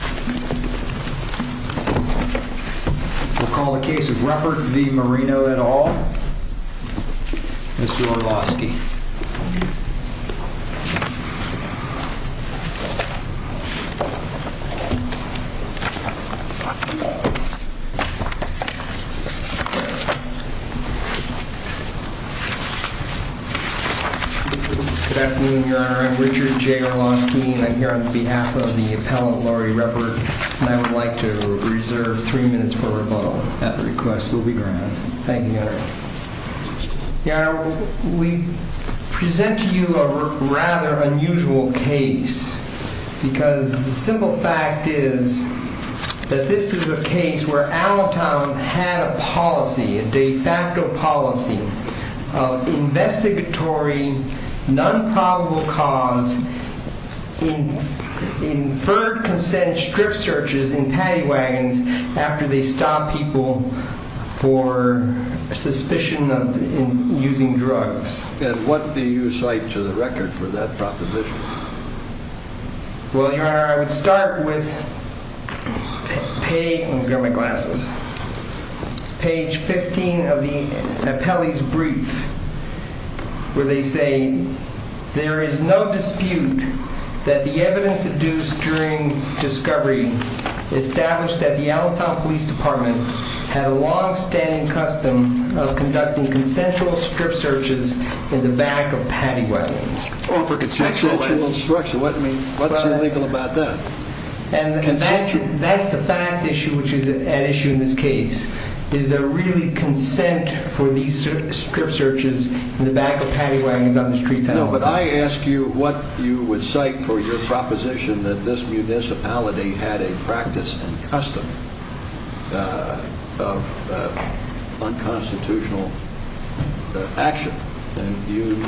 We'll call the case of Reppert v. Marino et al., Mr. Orlowski. Good afternoon, Your Honor. I'm Richard J. Orlowski. I'm here on behalf of the appellant, Laurie Reppert. I would like to reserve three minutes for rebuttal. That request will be granted. Thank you, Your Honor. Your Honor, we present to you a rather unusual case because the simple fact is that this is a case where Allentown had a policy, a de facto policy of investigatory, non-probable cause, inferred consent strip searches in paddy wagons after they stop people for suspicion of using drugs. And what do you cite to the record for that proposition? Well, Your Honor, I would start with page... page 15 of the appellee's brief where they say, there is no dispute that the evidence deduced during discovery established that the Allentown Police Department had a long-standing custom of conducting consensual strip searches in the back of paddy wagons. Oh, for consensual... What's illegal about that? And that's the fact issue which is at issue in this case is there really consent for these strip searches in the back of paddy wagons on the streets of Allentown? No, but I ask you what you would cite for your proposition that this municipality had a practice and custom of unconstitutional action. And you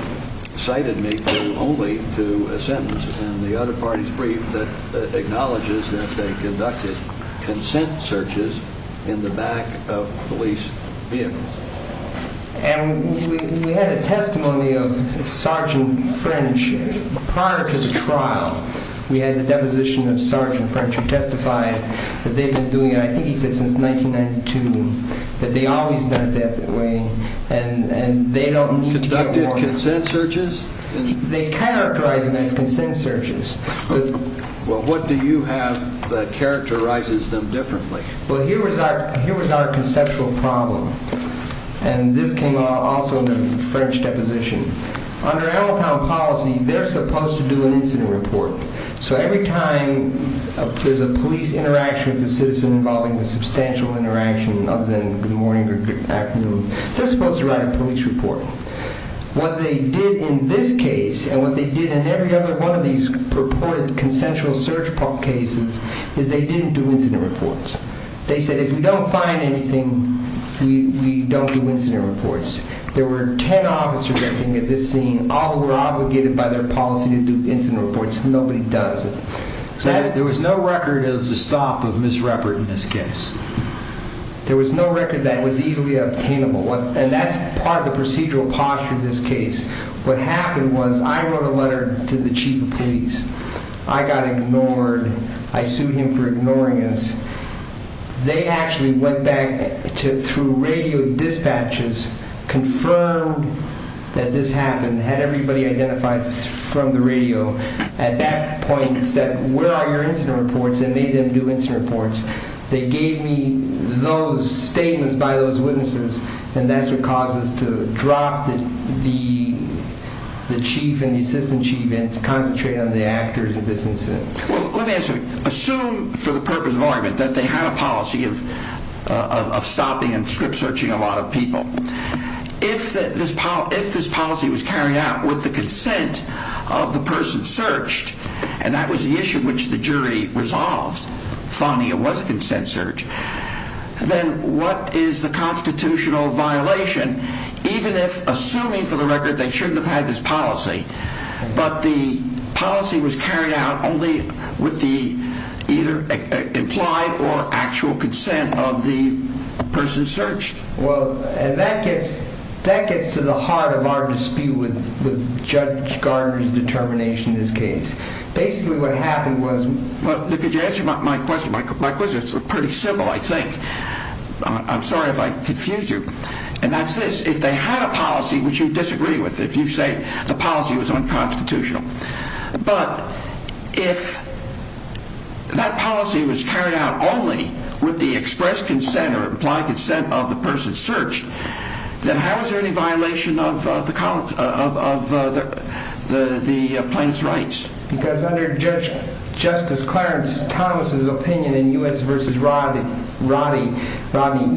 cited me only to a sentence in the other party's brief that acknowledges that they conducted consent searches in the back of police vehicles. And we had a testimony of Sergeant French prior to the trial. We had the deposition of Sergeant French who testified that they've been doing it, I think he said since 1992, that they always done it that way and they don't need to get more... Conducted consent searches? They characterize them as consent searches. Well, what do you have that characterizes them differently? Well, here was our conceptual problem. And this came also in the French deposition. Under Allentown policy, they're supposed to do an incident report. So every time there's a police interaction with a citizen involving a substantial interaction other than the morning or afternoon, they're supposed to write a police report. What they did in this case and what they did in every other one of these purported consensual search cases is they didn't do incident reports. They said, if we don't find anything, we don't do incident reports. There were 10 officers acting at this scene. All were obligated by their policy to do incident reports. Nobody does it. So there was no record of the stop of Ms. Ruppert in this case? There was no record that was easily obtainable. And that's part of the procedural posture of this case. What happened was I wrote a letter to the chief of police. I got ignored. I sued him for ignoring us. They actually went back through radio dispatches, confirmed that this happened, had everybody identified from the radio. At that point said, where are your incident reports? And made them do incident reports. They gave me those statements by those witnesses, and that's what caused us to drop the chief and the assistant chief and concentrate on the actors of this incident. Well, let me ask you, assume for the purpose of argument that they had a policy of stopping and script searching a lot of people. If this policy was carried out with the consent of the person searched, and that was the issue which the jury resolved, finding it was a consent search, then what is the constitutional violation, even if assuming for the record they shouldn't have had this policy, but the policy was carried out only with the either implied or actual consent of the person searched? Well, and that gets to the heart of our dispute with Judge Gardner's determination in this case. Basically what happened was... Look, could you answer my question? My question is pretty simple, I think. I'm sorry if I confuse you. And that's this, if they had a policy which you disagree with, if you say the policy was unconstitutional. But if that policy was carried out only with the expressed consent or implied consent of the person searched, then how is there any violation of the plaintiff's rights? Because under Justice Clarence Thomas' opinion in U.S. v. Rodney,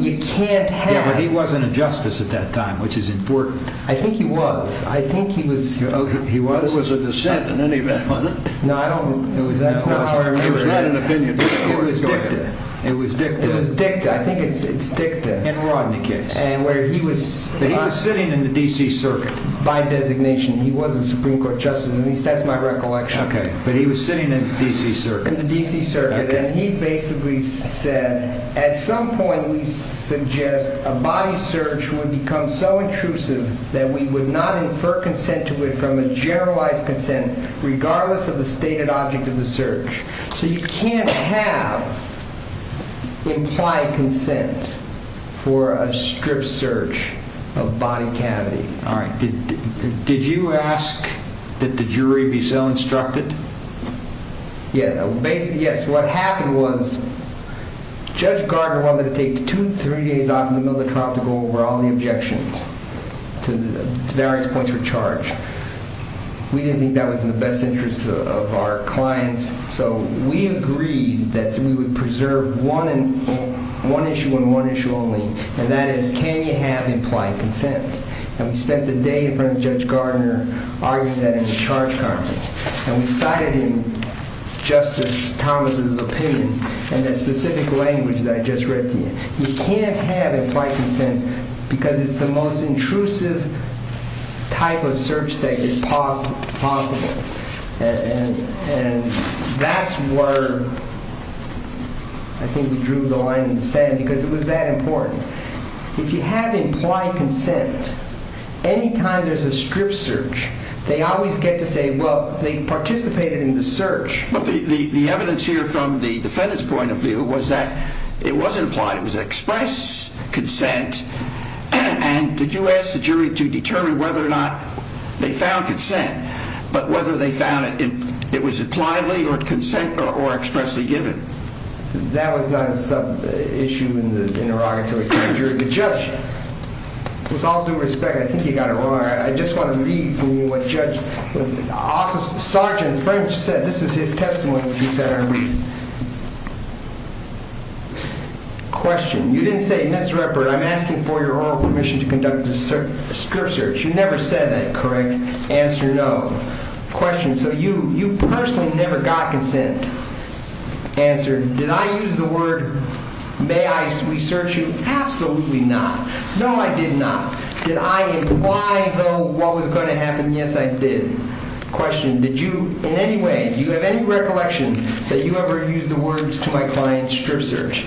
you can't have... Yeah, but he wasn't a justice at that time, which is important. I think he was. I think he was... He was? He was a dissent in any event, wasn't he? No, I don't... That's not how I remember it. It was dicta. It was dicta. It was dicta. I think it's dicta. In Rodney's case. And where he was... But he was sitting in the D.C. Circuit. By designation. He was a Supreme Court justice. At least that's my recollection. Okay, but he was sitting in the D.C. Circuit. In the D.C. Circuit. And he basically said, at some point we suggest a body search would become so intrusive that we would not infer consent to it from a generalized consent regardless of the stated object of the search. So you can't have implied consent for a strip search of body cavity. All right. Did you ask that the jury be so instructed? Basically, yes. What happened was Judge Gardner wanted to take two to three days off in the middle of the trial to go over all the objections to various points for charge. We didn't think that was in the best interest of our clients, so we agreed that we would preserve one issue and one issue only, and that is, can you have implied consent? And we spent the day in front of Judge Gardner arguing that it was a charge concept. And we cited him, Justice Thomas' opinion, and that specific language that I just read to you. You can't have implied consent because it's the most intrusive type of search that is possible. And that's where I think we drew the line in the sand because it was that important. If you have implied consent, any time there's a strip search, they always get to say, well, they participated in the search. But the evidence here from the defendant's point of view was that it wasn't implied. It was express consent. And did you ask the jury to determine whether or not they found consent, but whether they found it was impliedly or consent or expressly given? That was not a sub-issue in the interrogatory. The judge, with all due respect, I think you got it wrong. I just want to read from what Sgt. French said. This is his testimony that he said I read. Question. You didn't say, Ms. Redbird, I'm asking for your oral permission to conduct a strip search. You never said that, correct? Answer, no. Question. So you personally never got consent? Answer. Did I use the word may I re-search you? Absolutely not. No, I did not. Did I imply, though, what was going to happen? Yes, I did. Question. Did you, in any way, do you have any recollection that you ever used the words to my client's strip search?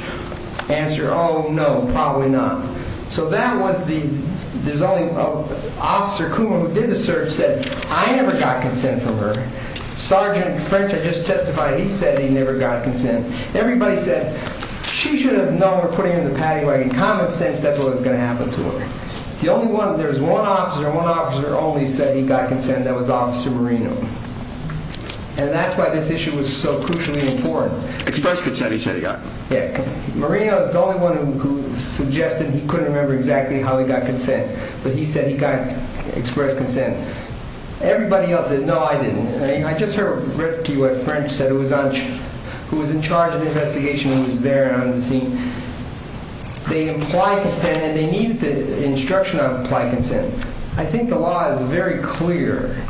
Answer, oh, no, probably not. So that was the, there's only, Officer Kuma, who did the search, said, I never got consent from her. Sgt. French, I just testified, he said he never got consent. Everybody said, she should have known we were putting her in the paddy wagon. Common sense, that's what was going to happen to her. The only one, there was one officer, and one officer only said he got consent, and that was Officer Marino. And that's why this issue was so crucially important. Expressed consent, he said he got. Yeah. Marino is the only one who suggested he couldn't remember exactly how he got consent. But he said he got expressed consent. Everybody else said, no, I didn't. I just read to you what French said, who was in charge of the investigation, who was there and on the scene. They implied consent, and they needed the instruction on implied consent. I think the law is very clear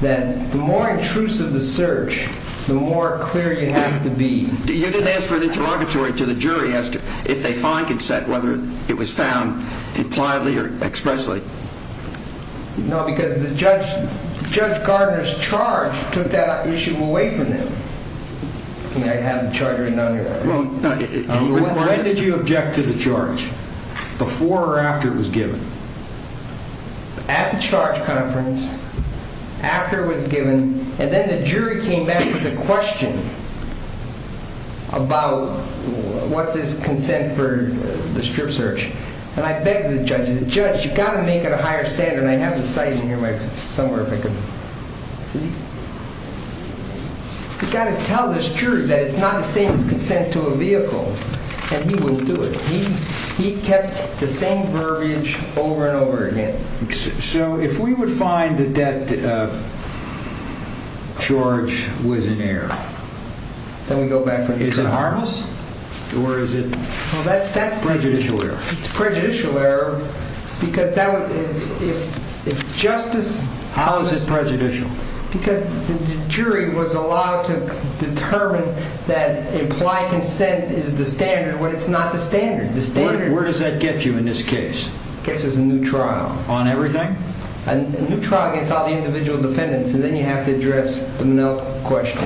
that the more intrusive the search, the more clear you have to be. You didn't ask for an interrogatory to the jury as to if they find consent, whether it was found impliedly or expressly. No, because Judge Gardner's charge took that issue away from them. When did you object to the charge, before or after it was given? At the charge conference, after it was given, and then the jury came back with a question about what's his consent for the strip search. And I begged the judge, the judge, you've got to make it a higher standard, and I have the site in here somewhere if I can see. You've got to tell this jury that it's not the same as consent to a vehicle, and he wouldn't do it. He kept the same verbiage over and over again. So if we would find that that charge was in error, then we go back to the charge. Is it harmless, or is it prejudicial error? It's prejudicial error, because that would, if justice… How is it prejudicial? Because the jury was allowed to determine that implied consent is the standard, when it's not the standard. Where does that get you in this case? It gets us a new trial. On everything? A new trial against all the individual defendants, and then you have to address the Monell question.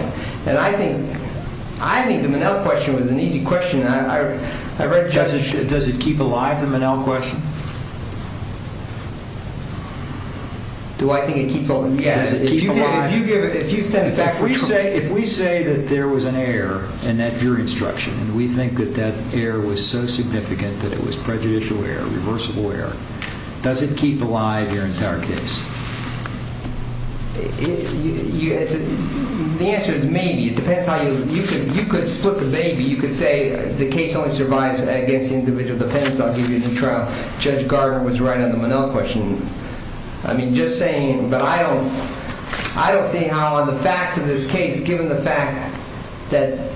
And I think the Monell question was an easy question. Does it keep alive, the Monell question? Do I think it keeps alive? Does it keep alive? If you said… If we say that there was an error in that jury instruction, and we think that that error was so significant that it was prejudicial error, reversible error, does it keep alive your entire case? The answer is maybe. It depends how you… You could split the maybe. You could say the case only survives against the individual defendants. I'll give you a new trial. Judge Gardner was right on the Monell question. I mean, just saying. But I don't see how the facts of this case, given the fact that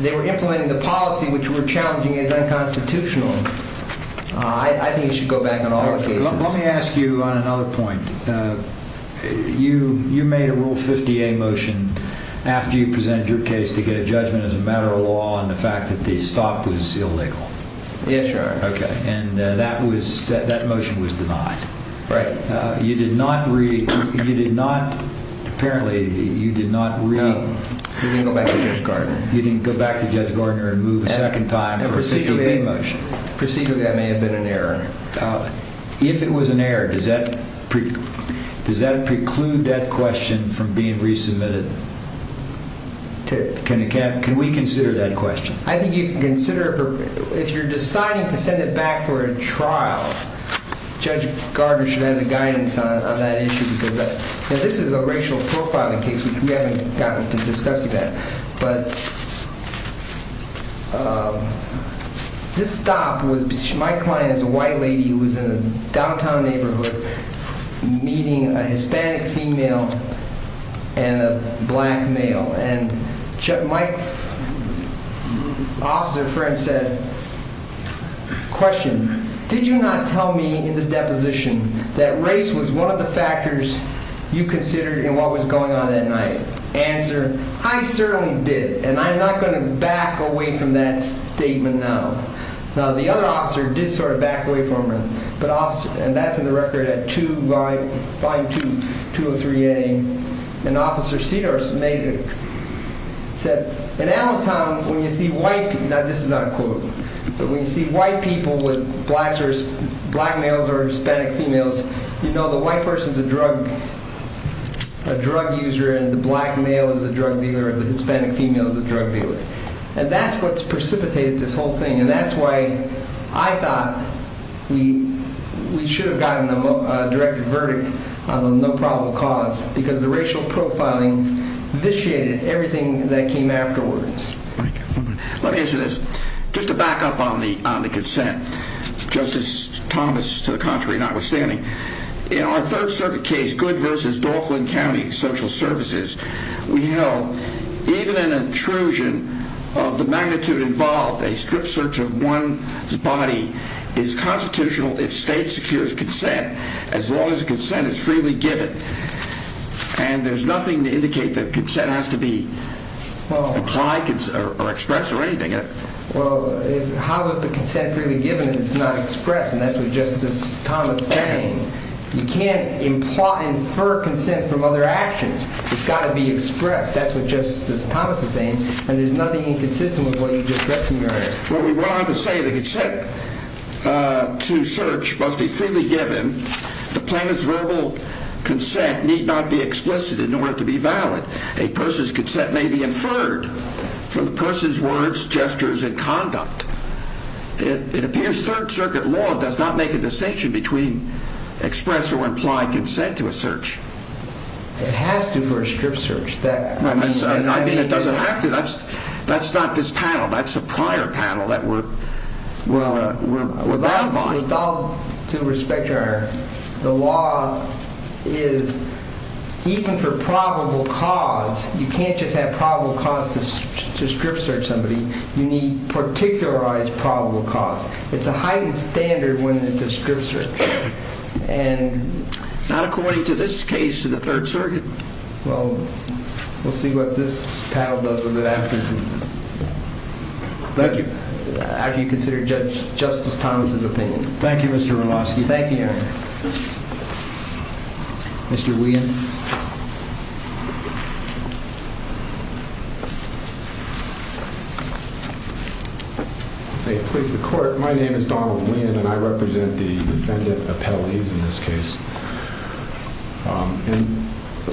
they were implementing the policy, which we're challenging as unconstitutional, I think it should go back on all the cases. Let me ask you on another point. You made a Rule 50A motion after you presented your case to get a judgment as a matter of law on the fact that the stop was illegal. Yes, Your Honor. Okay. And that motion was denied. Right. You did not read… Apparently, you did not read… No. We didn't go back to Judge Gardner. You didn't go back to Judge Gardner and move a second time for a 50A motion. Procedurally, that may have been an error. If it was an error, does that preclude that question from being resubmitted? Can we consider that question? I think you can consider it. If you're deciding to send it back for a trial, Judge Gardner should have the guidance on that issue because this is a racial profiling case, which we haven't gotten to discuss yet. But this stop was between my client as a white lady who was in a downtown neighborhood meeting a Hispanic female and a black male. My officer friend said, Question, did you not tell me in the deposition that race was one of the factors you considered in what was going on that night? Answer, I certainly did. And I'm not going to back away from that statement now. Now, the other officer did sort of back away from it. And that's in the record at Volume 2, 203A. And Officer Cedars said, In Allentown, when you see white people, now this is not a quote, but when you see white people with black males or Hispanic females, you know the white person is a drug user and the black male is a drug dealer and the Hispanic female is a drug dealer. And that's what's precipitated this whole thing. And that's why I thought we should have gotten a direct verdict on the no probable cause, because the racial profiling vitiated everything that came afterwards. Let me answer this. Just to back up on the consent, Justice Thomas, to the contrary, notwithstanding, in our Third Circuit case, Good v. Dauphlin County Social Services, we held even an intrusion of the magnitude involved, a strip search of one's body, is constitutional if state secures consent as long as the consent is freely given. And there's nothing to indicate that consent has to be implied or expressed or anything. Well, how is the consent freely given if it's not expressed? And that's what Justice Thomas is saying. You can't imply, infer consent from other actions. It's got to be expressed. That's what Justice Thomas is saying. And there's nothing inconsistent with what you just read from your hand. Well, we went on to say that consent to search must be freely given. The plaintiff's verbal consent need not be explicit in order to be valid. A person's consent may be inferred from the person's words, gestures, and conduct. It appears Third Circuit law does not make a distinction between express or implied consent to a search. It has to for a strip search. I mean, it doesn't have to. That's not this panel. That's a prior panel that we're brought by. With all due respect, Your Honor, the law is, even for probable cause, you can't just have probable cause to strip search somebody. You need particularized probable cause. It's a heightened standard when it's a strip search. Not according to this case in the Third Circuit. Well, we'll see what this panel does with it after you consider Justice Thomas's opinion. Thank you, Mr. Miloski. Thank you, Your Honor. Mr. Weehan. May it please the Court, my name is Donald Weehan, and I represent the defendant appellees in this case. And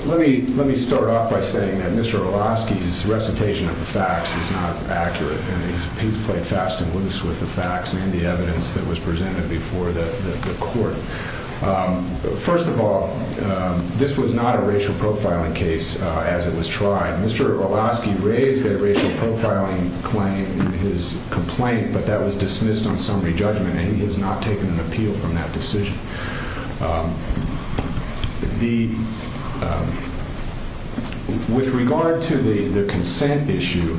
let me start off by saying that Mr. Orlowski's recitation of the facts is not accurate, and he's played fast and loose with the facts and the evidence that was presented before the court. First of all, this was not a racial profiling case as it was tried. Mr. Orlowski raised a racial profiling claim in his complaint, but that was dismissed on summary judgment, and he has not taken an appeal from that decision. With regard to the consent issue,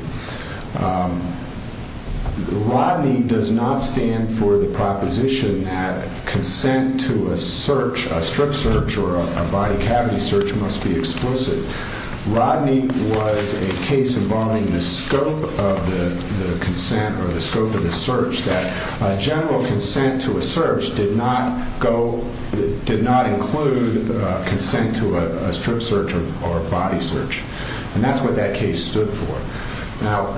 Rodney does not stand for the proposition that consent to a search, a strip search or a body cavity search must be explicit. Rodney was a case involving the scope of the consent or the scope of the search that general consent to a search did not include consent to a strip search or a body search. And that's what that case stood for. Now,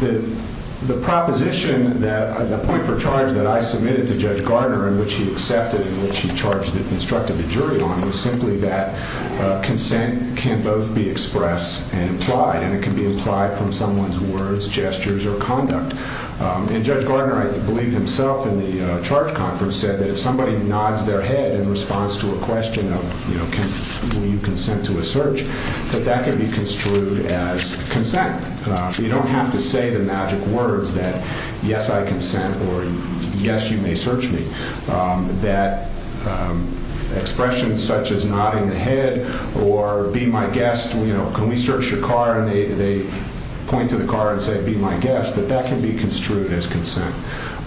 the proposition, the point for charge that I submitted to Judge Gardner in which he accepted and which he instructed the jury on was simply that consent can both be expressed and implied, and it can be implied from someone's words, gestures or conduct. And Judge Gardner, I believe, himself in the charge conference said that if somebody nods their head in response to a question of, you know, will you consent to a search, that that can be construed as consent. You don't have to say the magic words that yes, I consent or yes, you may search me. That expression such as nodding the head or be my guest, you know, can we search your car, and they point to the car and say be my guest, but that can be construed as consent.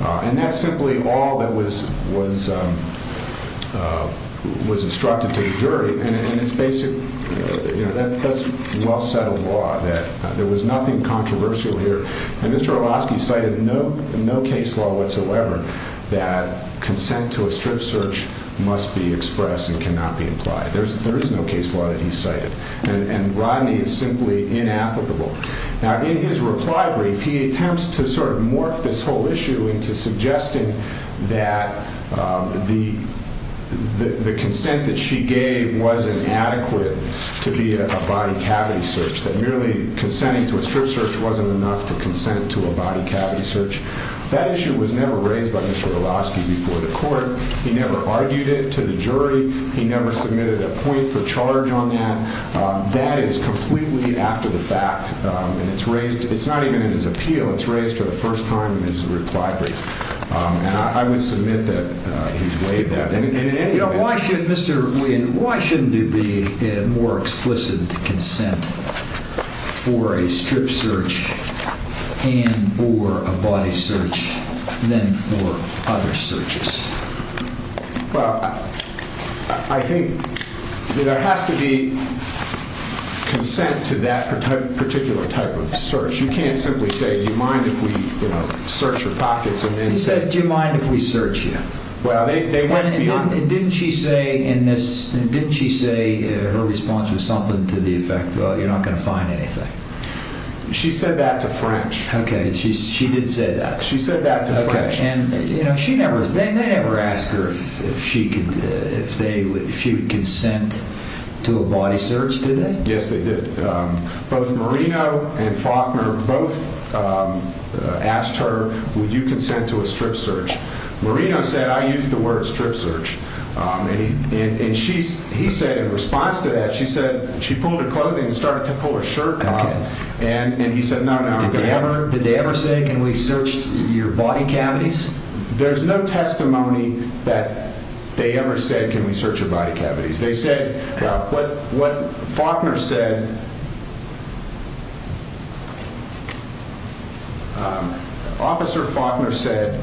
And that's simply all that was instructed to the jury. And it's basic, you know, that's well-settled law that there was nothing controversial here. And Mr. Hrabowski cited no case law whatsoever that consent to a strip search must be expressed and cannot be implied. There is no case law that he cited. And Rodney is simply inapplicable. Now, in his reply brief, he attempts to sort of morph this whole issue into suggesting that the consent that she gave wasn't adequate to be a body cavity search, that merely consenting to a strip search wasn't enough to consent to a body cavity search. That issue was never raised by Mr. Hrabowski before the court. He never argued it to the jury. He never submitted a point for charge on that. That is completely after the fact. And it's raised, it's not even in his appeal. It's raised for the first time in his reply brief. And I would submit that he's weighed that. And, you know, why should Mr. Wynn, why shouldn't there be a more explicit consent for a strip search and or a body search than for other searches? Well, I think there has to be consent to that particular type of search. You can't simply say, do you mind if we, you know, search your pockets and then... He said, do you mind if we search you? Well, they went beyond... And didn't she say in this, didn't she say her response was something to the effect, well, you're not going to find anything? She said that to French. Okay, she did say that. She said that to French. And, you know, she never, they never asked her if she could, if they, if she would consent to a body search, did they? Yes, they did. Both Marino and Faulkner both asked her, would you consent to a strip search? Marino said, I use the word strip search. And she, he said in response to that, she said, she pulled her clothing and started to pull her shirt off. And he said, no, no. Did they ever, did they ever say, can we search your body cavities? There's no testimony that they ever said, can we search your body cavities? They said, what Faulkner said, Officer Faulkner said,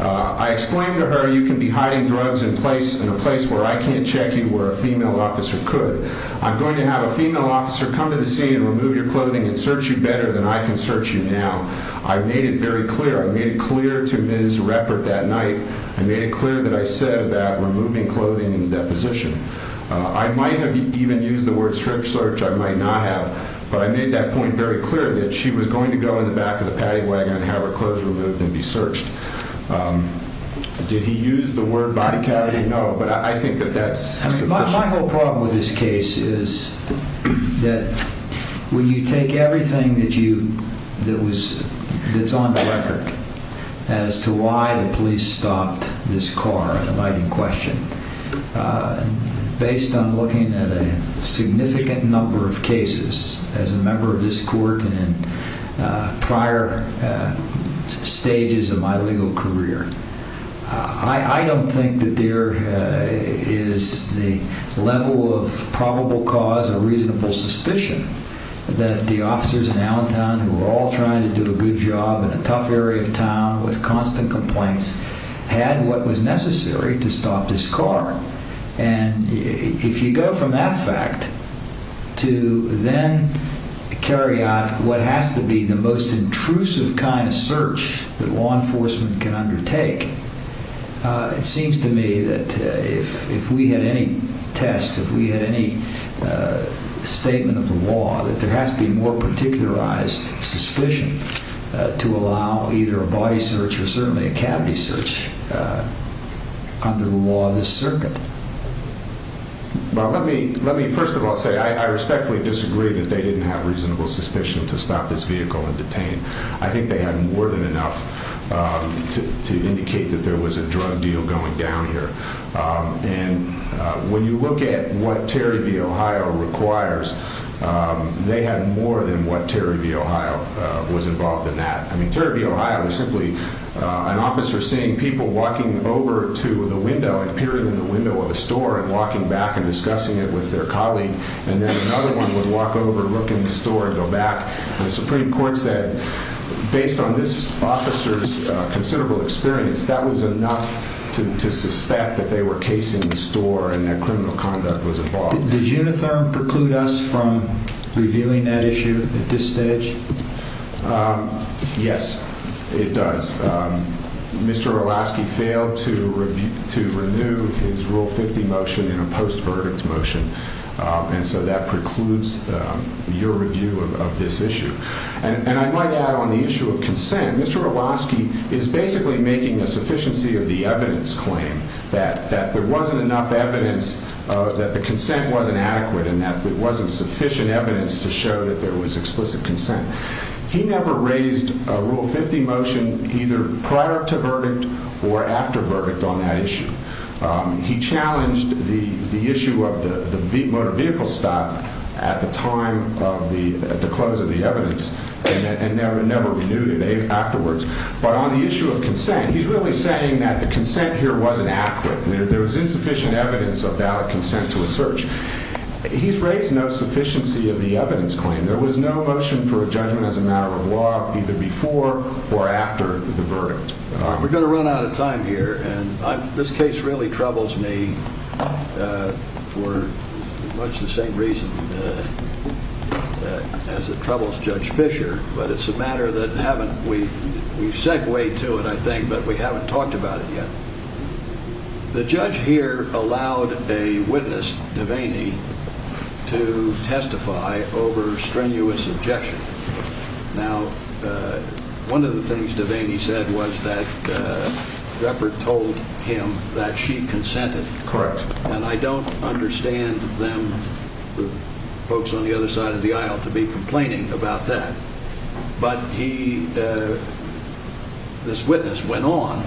I explained to her, you can be hiding drugs in a place where I can't check you where a female officer could. I'm going to have a female officer come to the scene and remove your clothing and search you better than I can search you now. I made it very clear. I made it clear to Ms. Reppert that night. I made it clear that I said that removing clothing and deposition. I might have even used the word strip search. I might not have. But I made that point very clear that she was going to go in the back of the paddy wagon and have her clothes removed and be searched. Did he use the word body cavity? No, but I think that that's sufficient. The real problem with this case is that when you take everything that you, that was, that's on the record, as to why the police stopped this car, an inviting question, based on looking at a significant number of cases as a member of this court and prior stages of my legal career, I don't think that there is the level of probable cause or reasonable suspicion that the officers in Allentown, who were all trying to do a good job in a tough area of town with constant complaints, had what was necessary to stop this car. And if you go from that fact to then carry out what has to be the most intrusive kind of search that law enforcement can undertake, it seems to me that if we had any test, if we had any statement of the law, that there has to be more particularized suspicion to allow either a body search or certainly a cavity search under the law of this circuit. Well, let me first of all say I respectfully disagree that they didn't have reasonable suspicion to stop this vehicle and detain. I think they had more than enough to indicate that there was a drug deal going down here. And when you look at what Terry v. Ohio requires, they had more than what Terry v. Ohio was involved in that. I mean, Terry v. Ohio was simply an officer seeing people walking over to the window, appearing in the window of a store and walking back and discussing it with their colleague. And then another one would walk over, look in the store and go back. And the Supreme Court said, based on this officer's considerable experience, that was enough to suspect that they were casing the store and that criminal conduct was involved. Does Unitherm preclude us from reviewing that issue at this stage? Yes, it does. Mr. Orlowski failed to renew his Rule 50 motion in a post-verdict motion. And so that precludes your review of this issue. And I might add on the issue of consent. Mr. Orlowski is basically making a sufficiency of the evidence claim that there wasn't enough evidence that the consent wasn't adequate and that there wasn't sufficient evidence to show that there was explicit consent. He never raised a Rule 50 motion either prior to verdict or after verdict on that issue. He challenged the issue of the motor vehicle stop at the time of the close of the evidence and never renewed it afterwards. But on the issue of consent, he's really saying that the consent here wasn't accurate. There was insufficient evidence of valid consent to a search. He's raised no sufficiency of the evidence claim. There was no motion for a judgment as a matter of law either before or after the verdict. We're going to run out of time here. And this case really troubles me for much the same reason as it troubles Judge Fischer. But it's a matter that we've segued to it, I think, but we haven't talked about it yet. The judge here allowed a witness, Devaney, to testify over strenuous objection. Now, one of the things Devaney said was that Ruppert told him that she consented. Correct. And I don't understand them, the folks on the other side of the aisle, to be complaining about that. But he, this witness, went on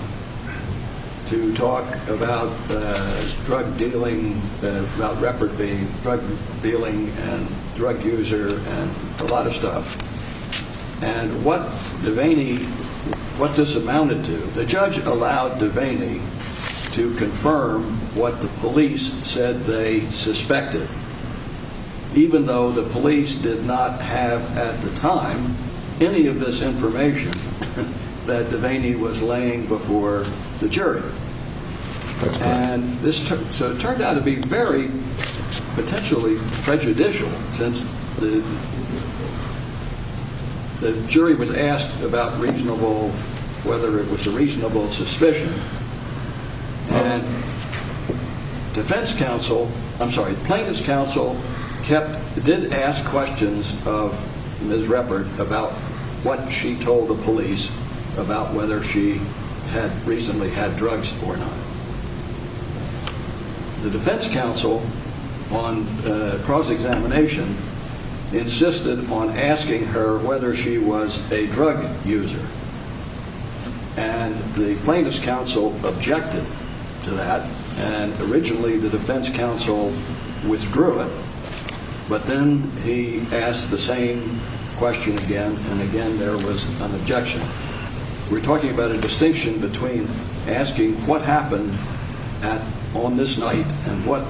to talk about drug dealing, about Ruppert being drug dealing and drug user and a lot of stuff. And what Devaney, what this amounted to, the judge allowed Devaney to confirm what the police said they suspected, even though the police did not have at the time any of this information that Devaney was laying before the jury. And this turned out to be very potentially prejudicial since the jury was asked about reasonable, whether it was a reasonable suspicion. And defense counsel, I'm sorry, plaintiff's counsel did ask questions of Ms. Ruppert about what she told the police about whether she had recently had drugs or not. The defense counsel on cross-examination insisted on asking her whether she was a drug user. And the plaintiff's counsel objected to that and originally the defense counsel withdrew it. But then he asked the same question again and again there was an objection. We're talking about a distinction between asking what happened on this night and what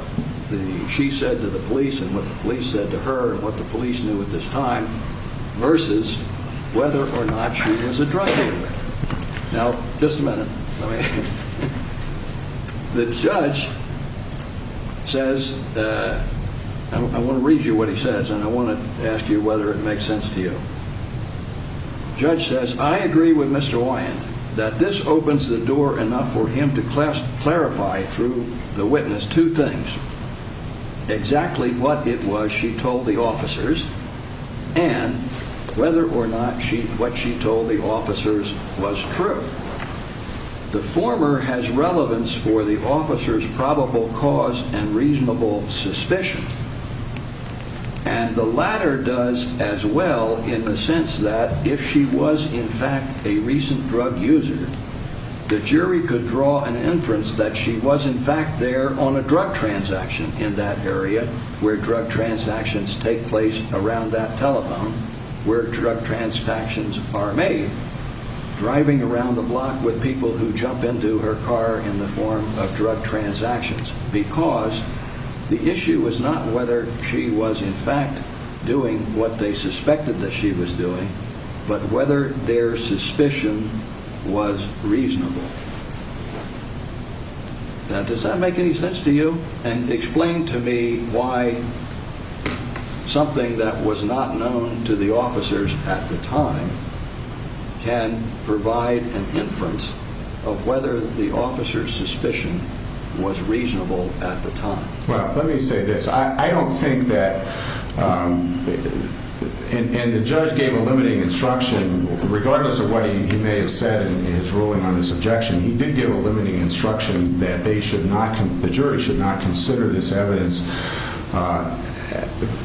she said to the police and what the police said to her and what the police knew at this time versus whether or not she was a drug user. Now, just a minute. The judge says, I want to read you what he says and I want to ask you whether it makes sense to you. Judge says, I agree with Mr. Wyan that this opens the door enough for him to clarify through the witness two things exactly what it was she told the officers and whether or not she what she told the officers was true. The former has relevance for the officer's probable cause and reasonable suspicion and the latter does as well in the sense that if she was in fact a recent drug user, the jury could draw an inference that she was in fact there on a drug transaction in that area where drug transactions take place around that telephone, where drug transactions are made, driving around the block with people who jump into her car in the form of drug transactions because the issue was not whether she was in fact doing what they suspected that she was doing, but whether their suspicion was reasonable. Now, does that make any sense to you? And explain to me why something that was not known to the officers at the time can provide an inference of whether the officer's suspicion was reasonable at the time. Well, let me say this. I don't think that and the judge gave a limiting instruction, regardless of what he may have said in his ruling on this objection. He did give a limiting instruction that they should not. The jury should not consider this evidence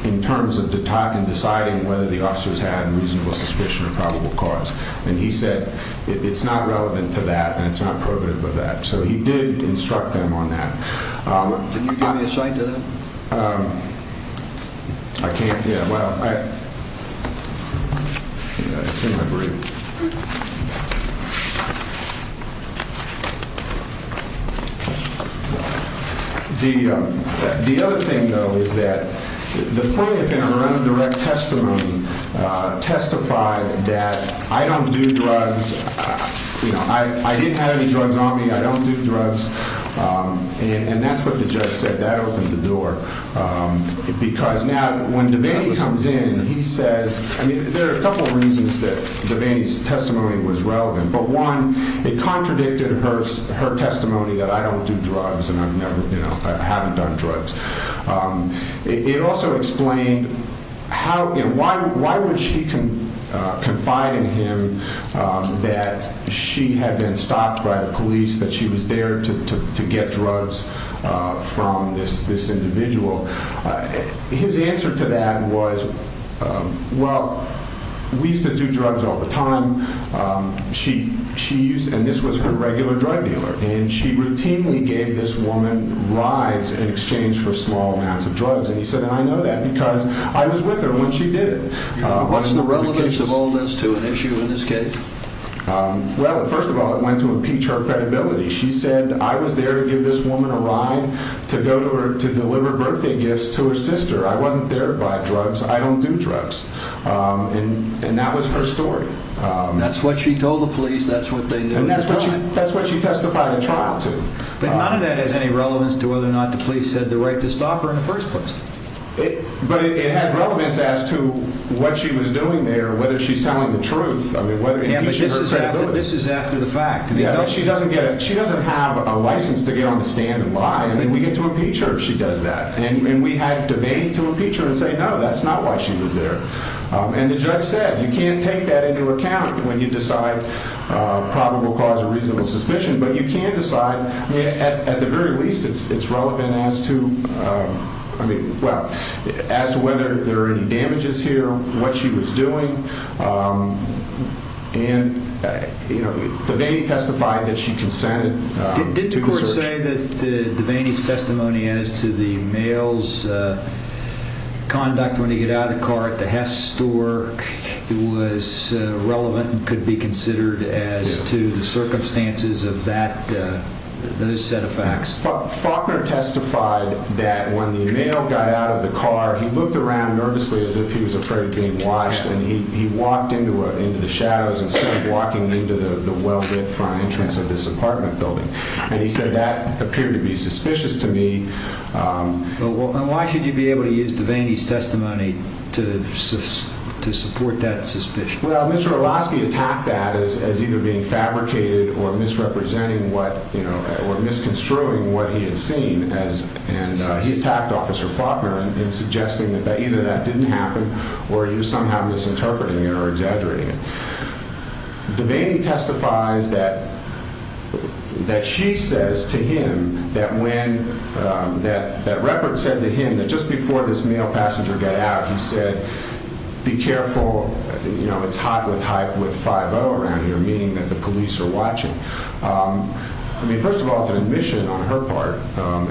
in terms of the talk and deciding whether the officers had reasonable suspicion of probable cause. And he said it's not relevant to that. And it's not prohibitive of that. So he did instruct them on that. Can you give me a cite to that? I can't. Yeah. The other thing, though, is that the plaintiff in her own direct testimony testified that I don't do drugs. I didn't have any drugs on me. I don't do drugs. And that's what the judge said. That opened the door. Because now when Devaney comes in, he says, I mean, there are a couple of reasons that Devaney's testimony was relevant. But one, it contradicted her testimony that I don't do drugs and I've never, you know, I haven't done drugs. It also explained how and why would she confide in him that she had been stopped by the police, that she was there to get drugs from this individual? His answer to that was, well, we used to do drugs all the time. She used and this was her regular drug dealer. And she routinely gave this woman rides in exchange for small amounts of drugs. And he said, and I know that because I was with her when she did it. What's the relevance of all this to an issue in this case? Well, first of all, it went to impeach her credibility. She said I was there to give this woman a ride to go to her to deliver birthday gifts to her sister. I wasn't there to buy drugs. I don't do drugs. And that was her story. That's what she told the police. That's what they knew. And that's what she that's what she testified in trial to. But none of that has any relevance to whether or not the police had the right to stop her in the first place. But it has relevance as to what she was doing there, whether she's telling the truth. I mean, this is after the fact. She doesn't get it. She doesn't have a license to get on the stand and lie. And then we get to impeach her if she does that. And we had debate to impeach her and say, no, that's not why she was there. And the judge said, you can't take that into account when you decide probable cause of reasonable suspicion. But you can't decide at the very least. It's relevant as to I mean, well, as to whether there are any damages here, what she was doing. And, you know, they testified that she consented. Did the court say that Devaney's testimony as to the male's conduct when he got out of the car at the Hess store, it was relevant and could be considered as to the circumstances of that set of facts. Faulkner testified that when the male got out of the car, he looked around nervously as if he was afraid of being watched. And he walked into into the shadows and started walking into the well-lit front entrance of this apartment building. And he said that appeared to be suspicious to me. Well, why should you be able to use Devaney's testimony to to support that suspicion? Well, Mr. Orlovsky attacked that as either being fabricated or misrepresenting what you know, or misconstruing what he had seen. And he attacked Officer Faulkner in suggesting that either that didn't happen or you somehow misinterpreting it or exaggerating it. Devaney testifies that that she says to him that when that that record said to him that just before this male passenger got out, he said, be careful. You know, it's hot with hype with 5-0 around here, meaning that the police are watching. I mean, first of all, it's an admission on her part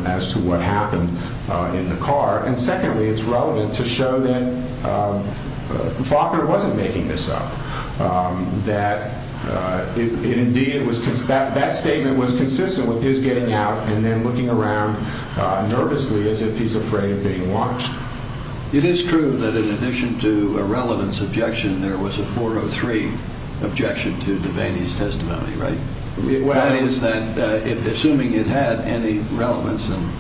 as to what happened in the car. And secondly, it's relevant to show that Faulkner wasn't making this up, that it indeed was that that statement was consistent with his getting out and then looking around nervously as if he's afraid of being watched. It is true that in addition to a relevance objection, there was a four or three objection to Devaney's testimony. Right. Well, that is that assuming it had any relevance and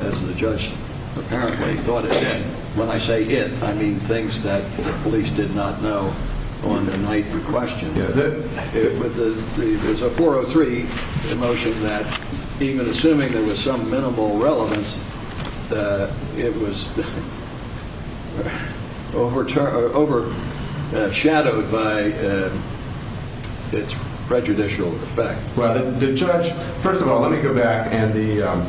as the judge apparently thought it did. When I say it, I mean things that the police did not know on their night in question. It was a four or three emotion that even assuming there was some minimal relevance, it was overturned, overshadowed by its prejudicial effect. Well, the judge. First of all, let me go back. And the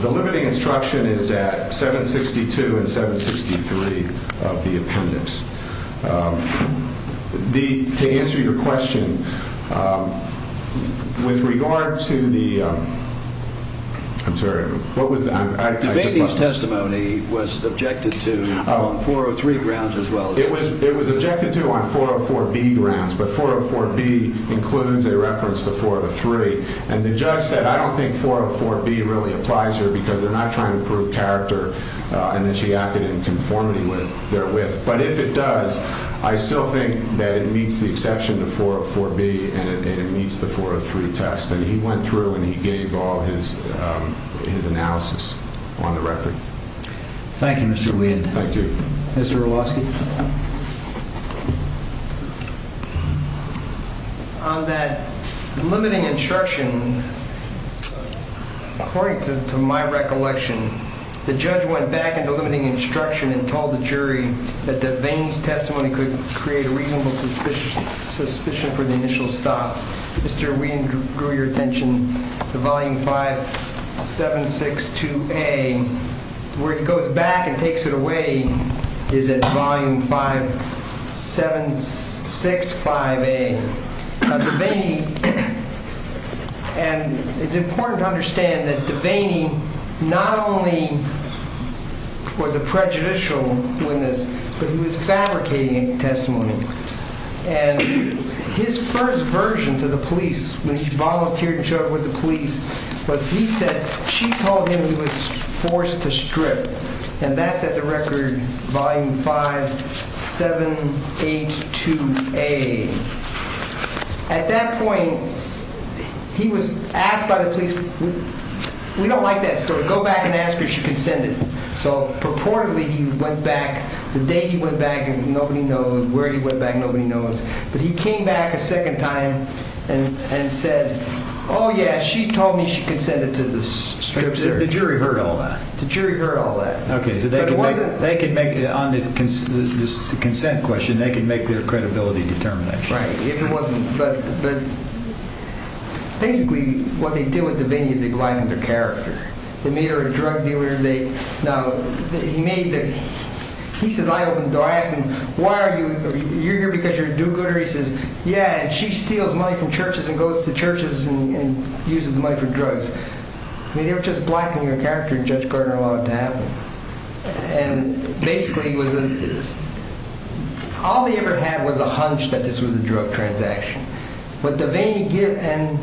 the limiting instruction is at 762 and 763 of the appendix. The to answer your question with regard to the. I'm sorry. What was the testimony was objected to four or three grounds as well. It was it was objected to on four or four grounds. But four or four B includes a reference to four of the three. And the judge said, I don't think four or four B really applies here because they're not trying to prove character. And then she acted in conformity with their with. But if it does, I still think that it meets the exception to four or four B and it meets the four or three test. And he went through and he gave all his his analysis on the record. Thank you, Mr. Lee. Thank you, Mr. Lasky. That limiting instruction. According to my recollection, the judge went back into limiting instruction and told the jury that the veins testimony could create a reasonable suspicion, suspicion for the initial stop. Mr. Wien grew your attention to volume five, seven, six to pay where he goes back and takes it away. Is it volume five, seven, six, five, eight? And it's important to understand that the vein not only was a prejudicial witness, but he was fabricating testimony. And his first version to the police when he volunteered and showed with the police was he said she told him he was forced to strip. And that's at the record volume five, seven, eight to a. At that point, he was asked by the police. We don't like that story. Go back and ask if you can send it. So purportedly, he went back the day he went back. And nobody knows where he went back. Nobody knows. But he came back a second time and said, oh, yeah, she told me she consented to this. The jury heard all that. The jury heard all that. OK, so they can make it on this consent question. They can make their credibility determination. Right. If it wasn't. But basically, what they do with the vein is they go back to their character. They made her a drug dealer. Now, he made the he says, I opened the door. I asked him, why are you here? Because you're a do-gooder. He says, yeah, and she steals money from churches and goes to churches and uses the money for drugs. They were just blackening her character and Judge Gardner allowed it to happen. And basically, all they ever had was a hunch that this was a drug transaction. But the vein you get and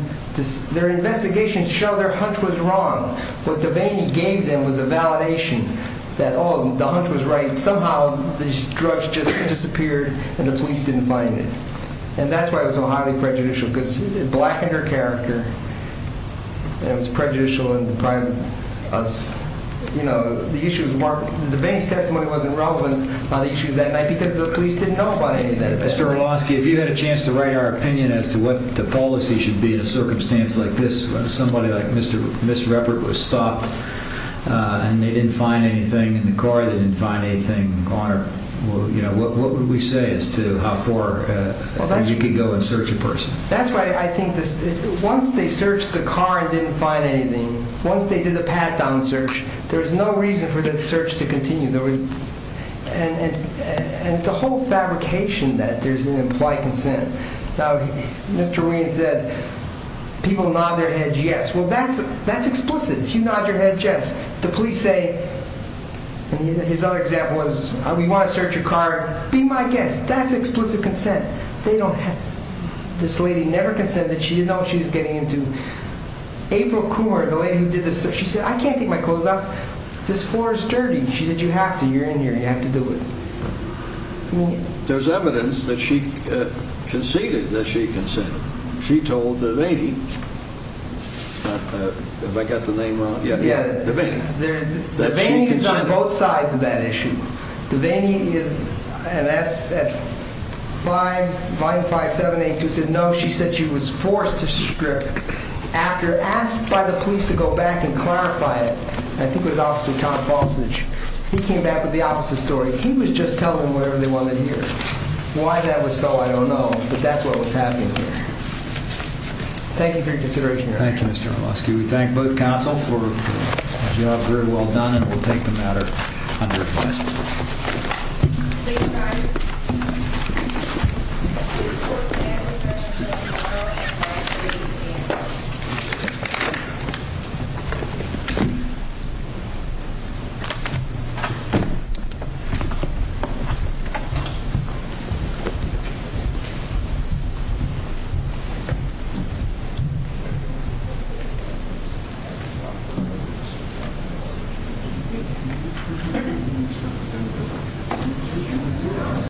their investigation show their hunch was wrong. What the vein he gave them was a validation that all the hunch was right. Somehow, this drug just disappeared and the police didn't find it. And that's why it was so highly prejudicial, because it blackened her character. It was prejudicial and deprived us. You know, the issue of the vein testimony wasn't relevant on the issue that night because the police didn't know about it. Mr. Orlowski, if you had a chance to write our opinion as to what the policy should be in a circumstance like this, when somebody like Miss Ruppert was stopped and they didn't find anything in the car, they didn't find anything on her, what would we say as to how far you could go and search a person? That's right. I think once they searched the car and didn't find anything, once they did the pat-down search, there's no reason for the search to continue. And it's a whole fabrication that there's an implied consent. Now, Mr. Wien said, people nod their heads, yes. Well, that's explicit. You nod your head, yes. The police say, and his other example was, we want to search your car, be my guest. That's explicit consent. This lady never consented. She didn't know what she was getting into. April Coomer, the lady who did the search, she said, I can't take my clothes off. This floor is dirty. She said, you have to, you're in here, you have to do it. There's evidence that she conceded that she consented. She told Devaney, have I got the name wrong? Yeah, Devaney is on both sides of that issue. Devaney is, and that's at 5, Volume 5, 7, 8, she said no, she said she was forced to strip. After, asked by the police to go back and clarify it, I think it was Officer Tom Fosage, he came back with the opposite story. He was just telling them whatever they wanted to hear. Why that was so, I don't know, but that's what was happening here. Thank you for your consideration, Your Honor. Thank you, Mr. Orlowski. We thank both counsel for, as you know, very well done, and we'll take the matter under investigation. Please be seated. Thank you.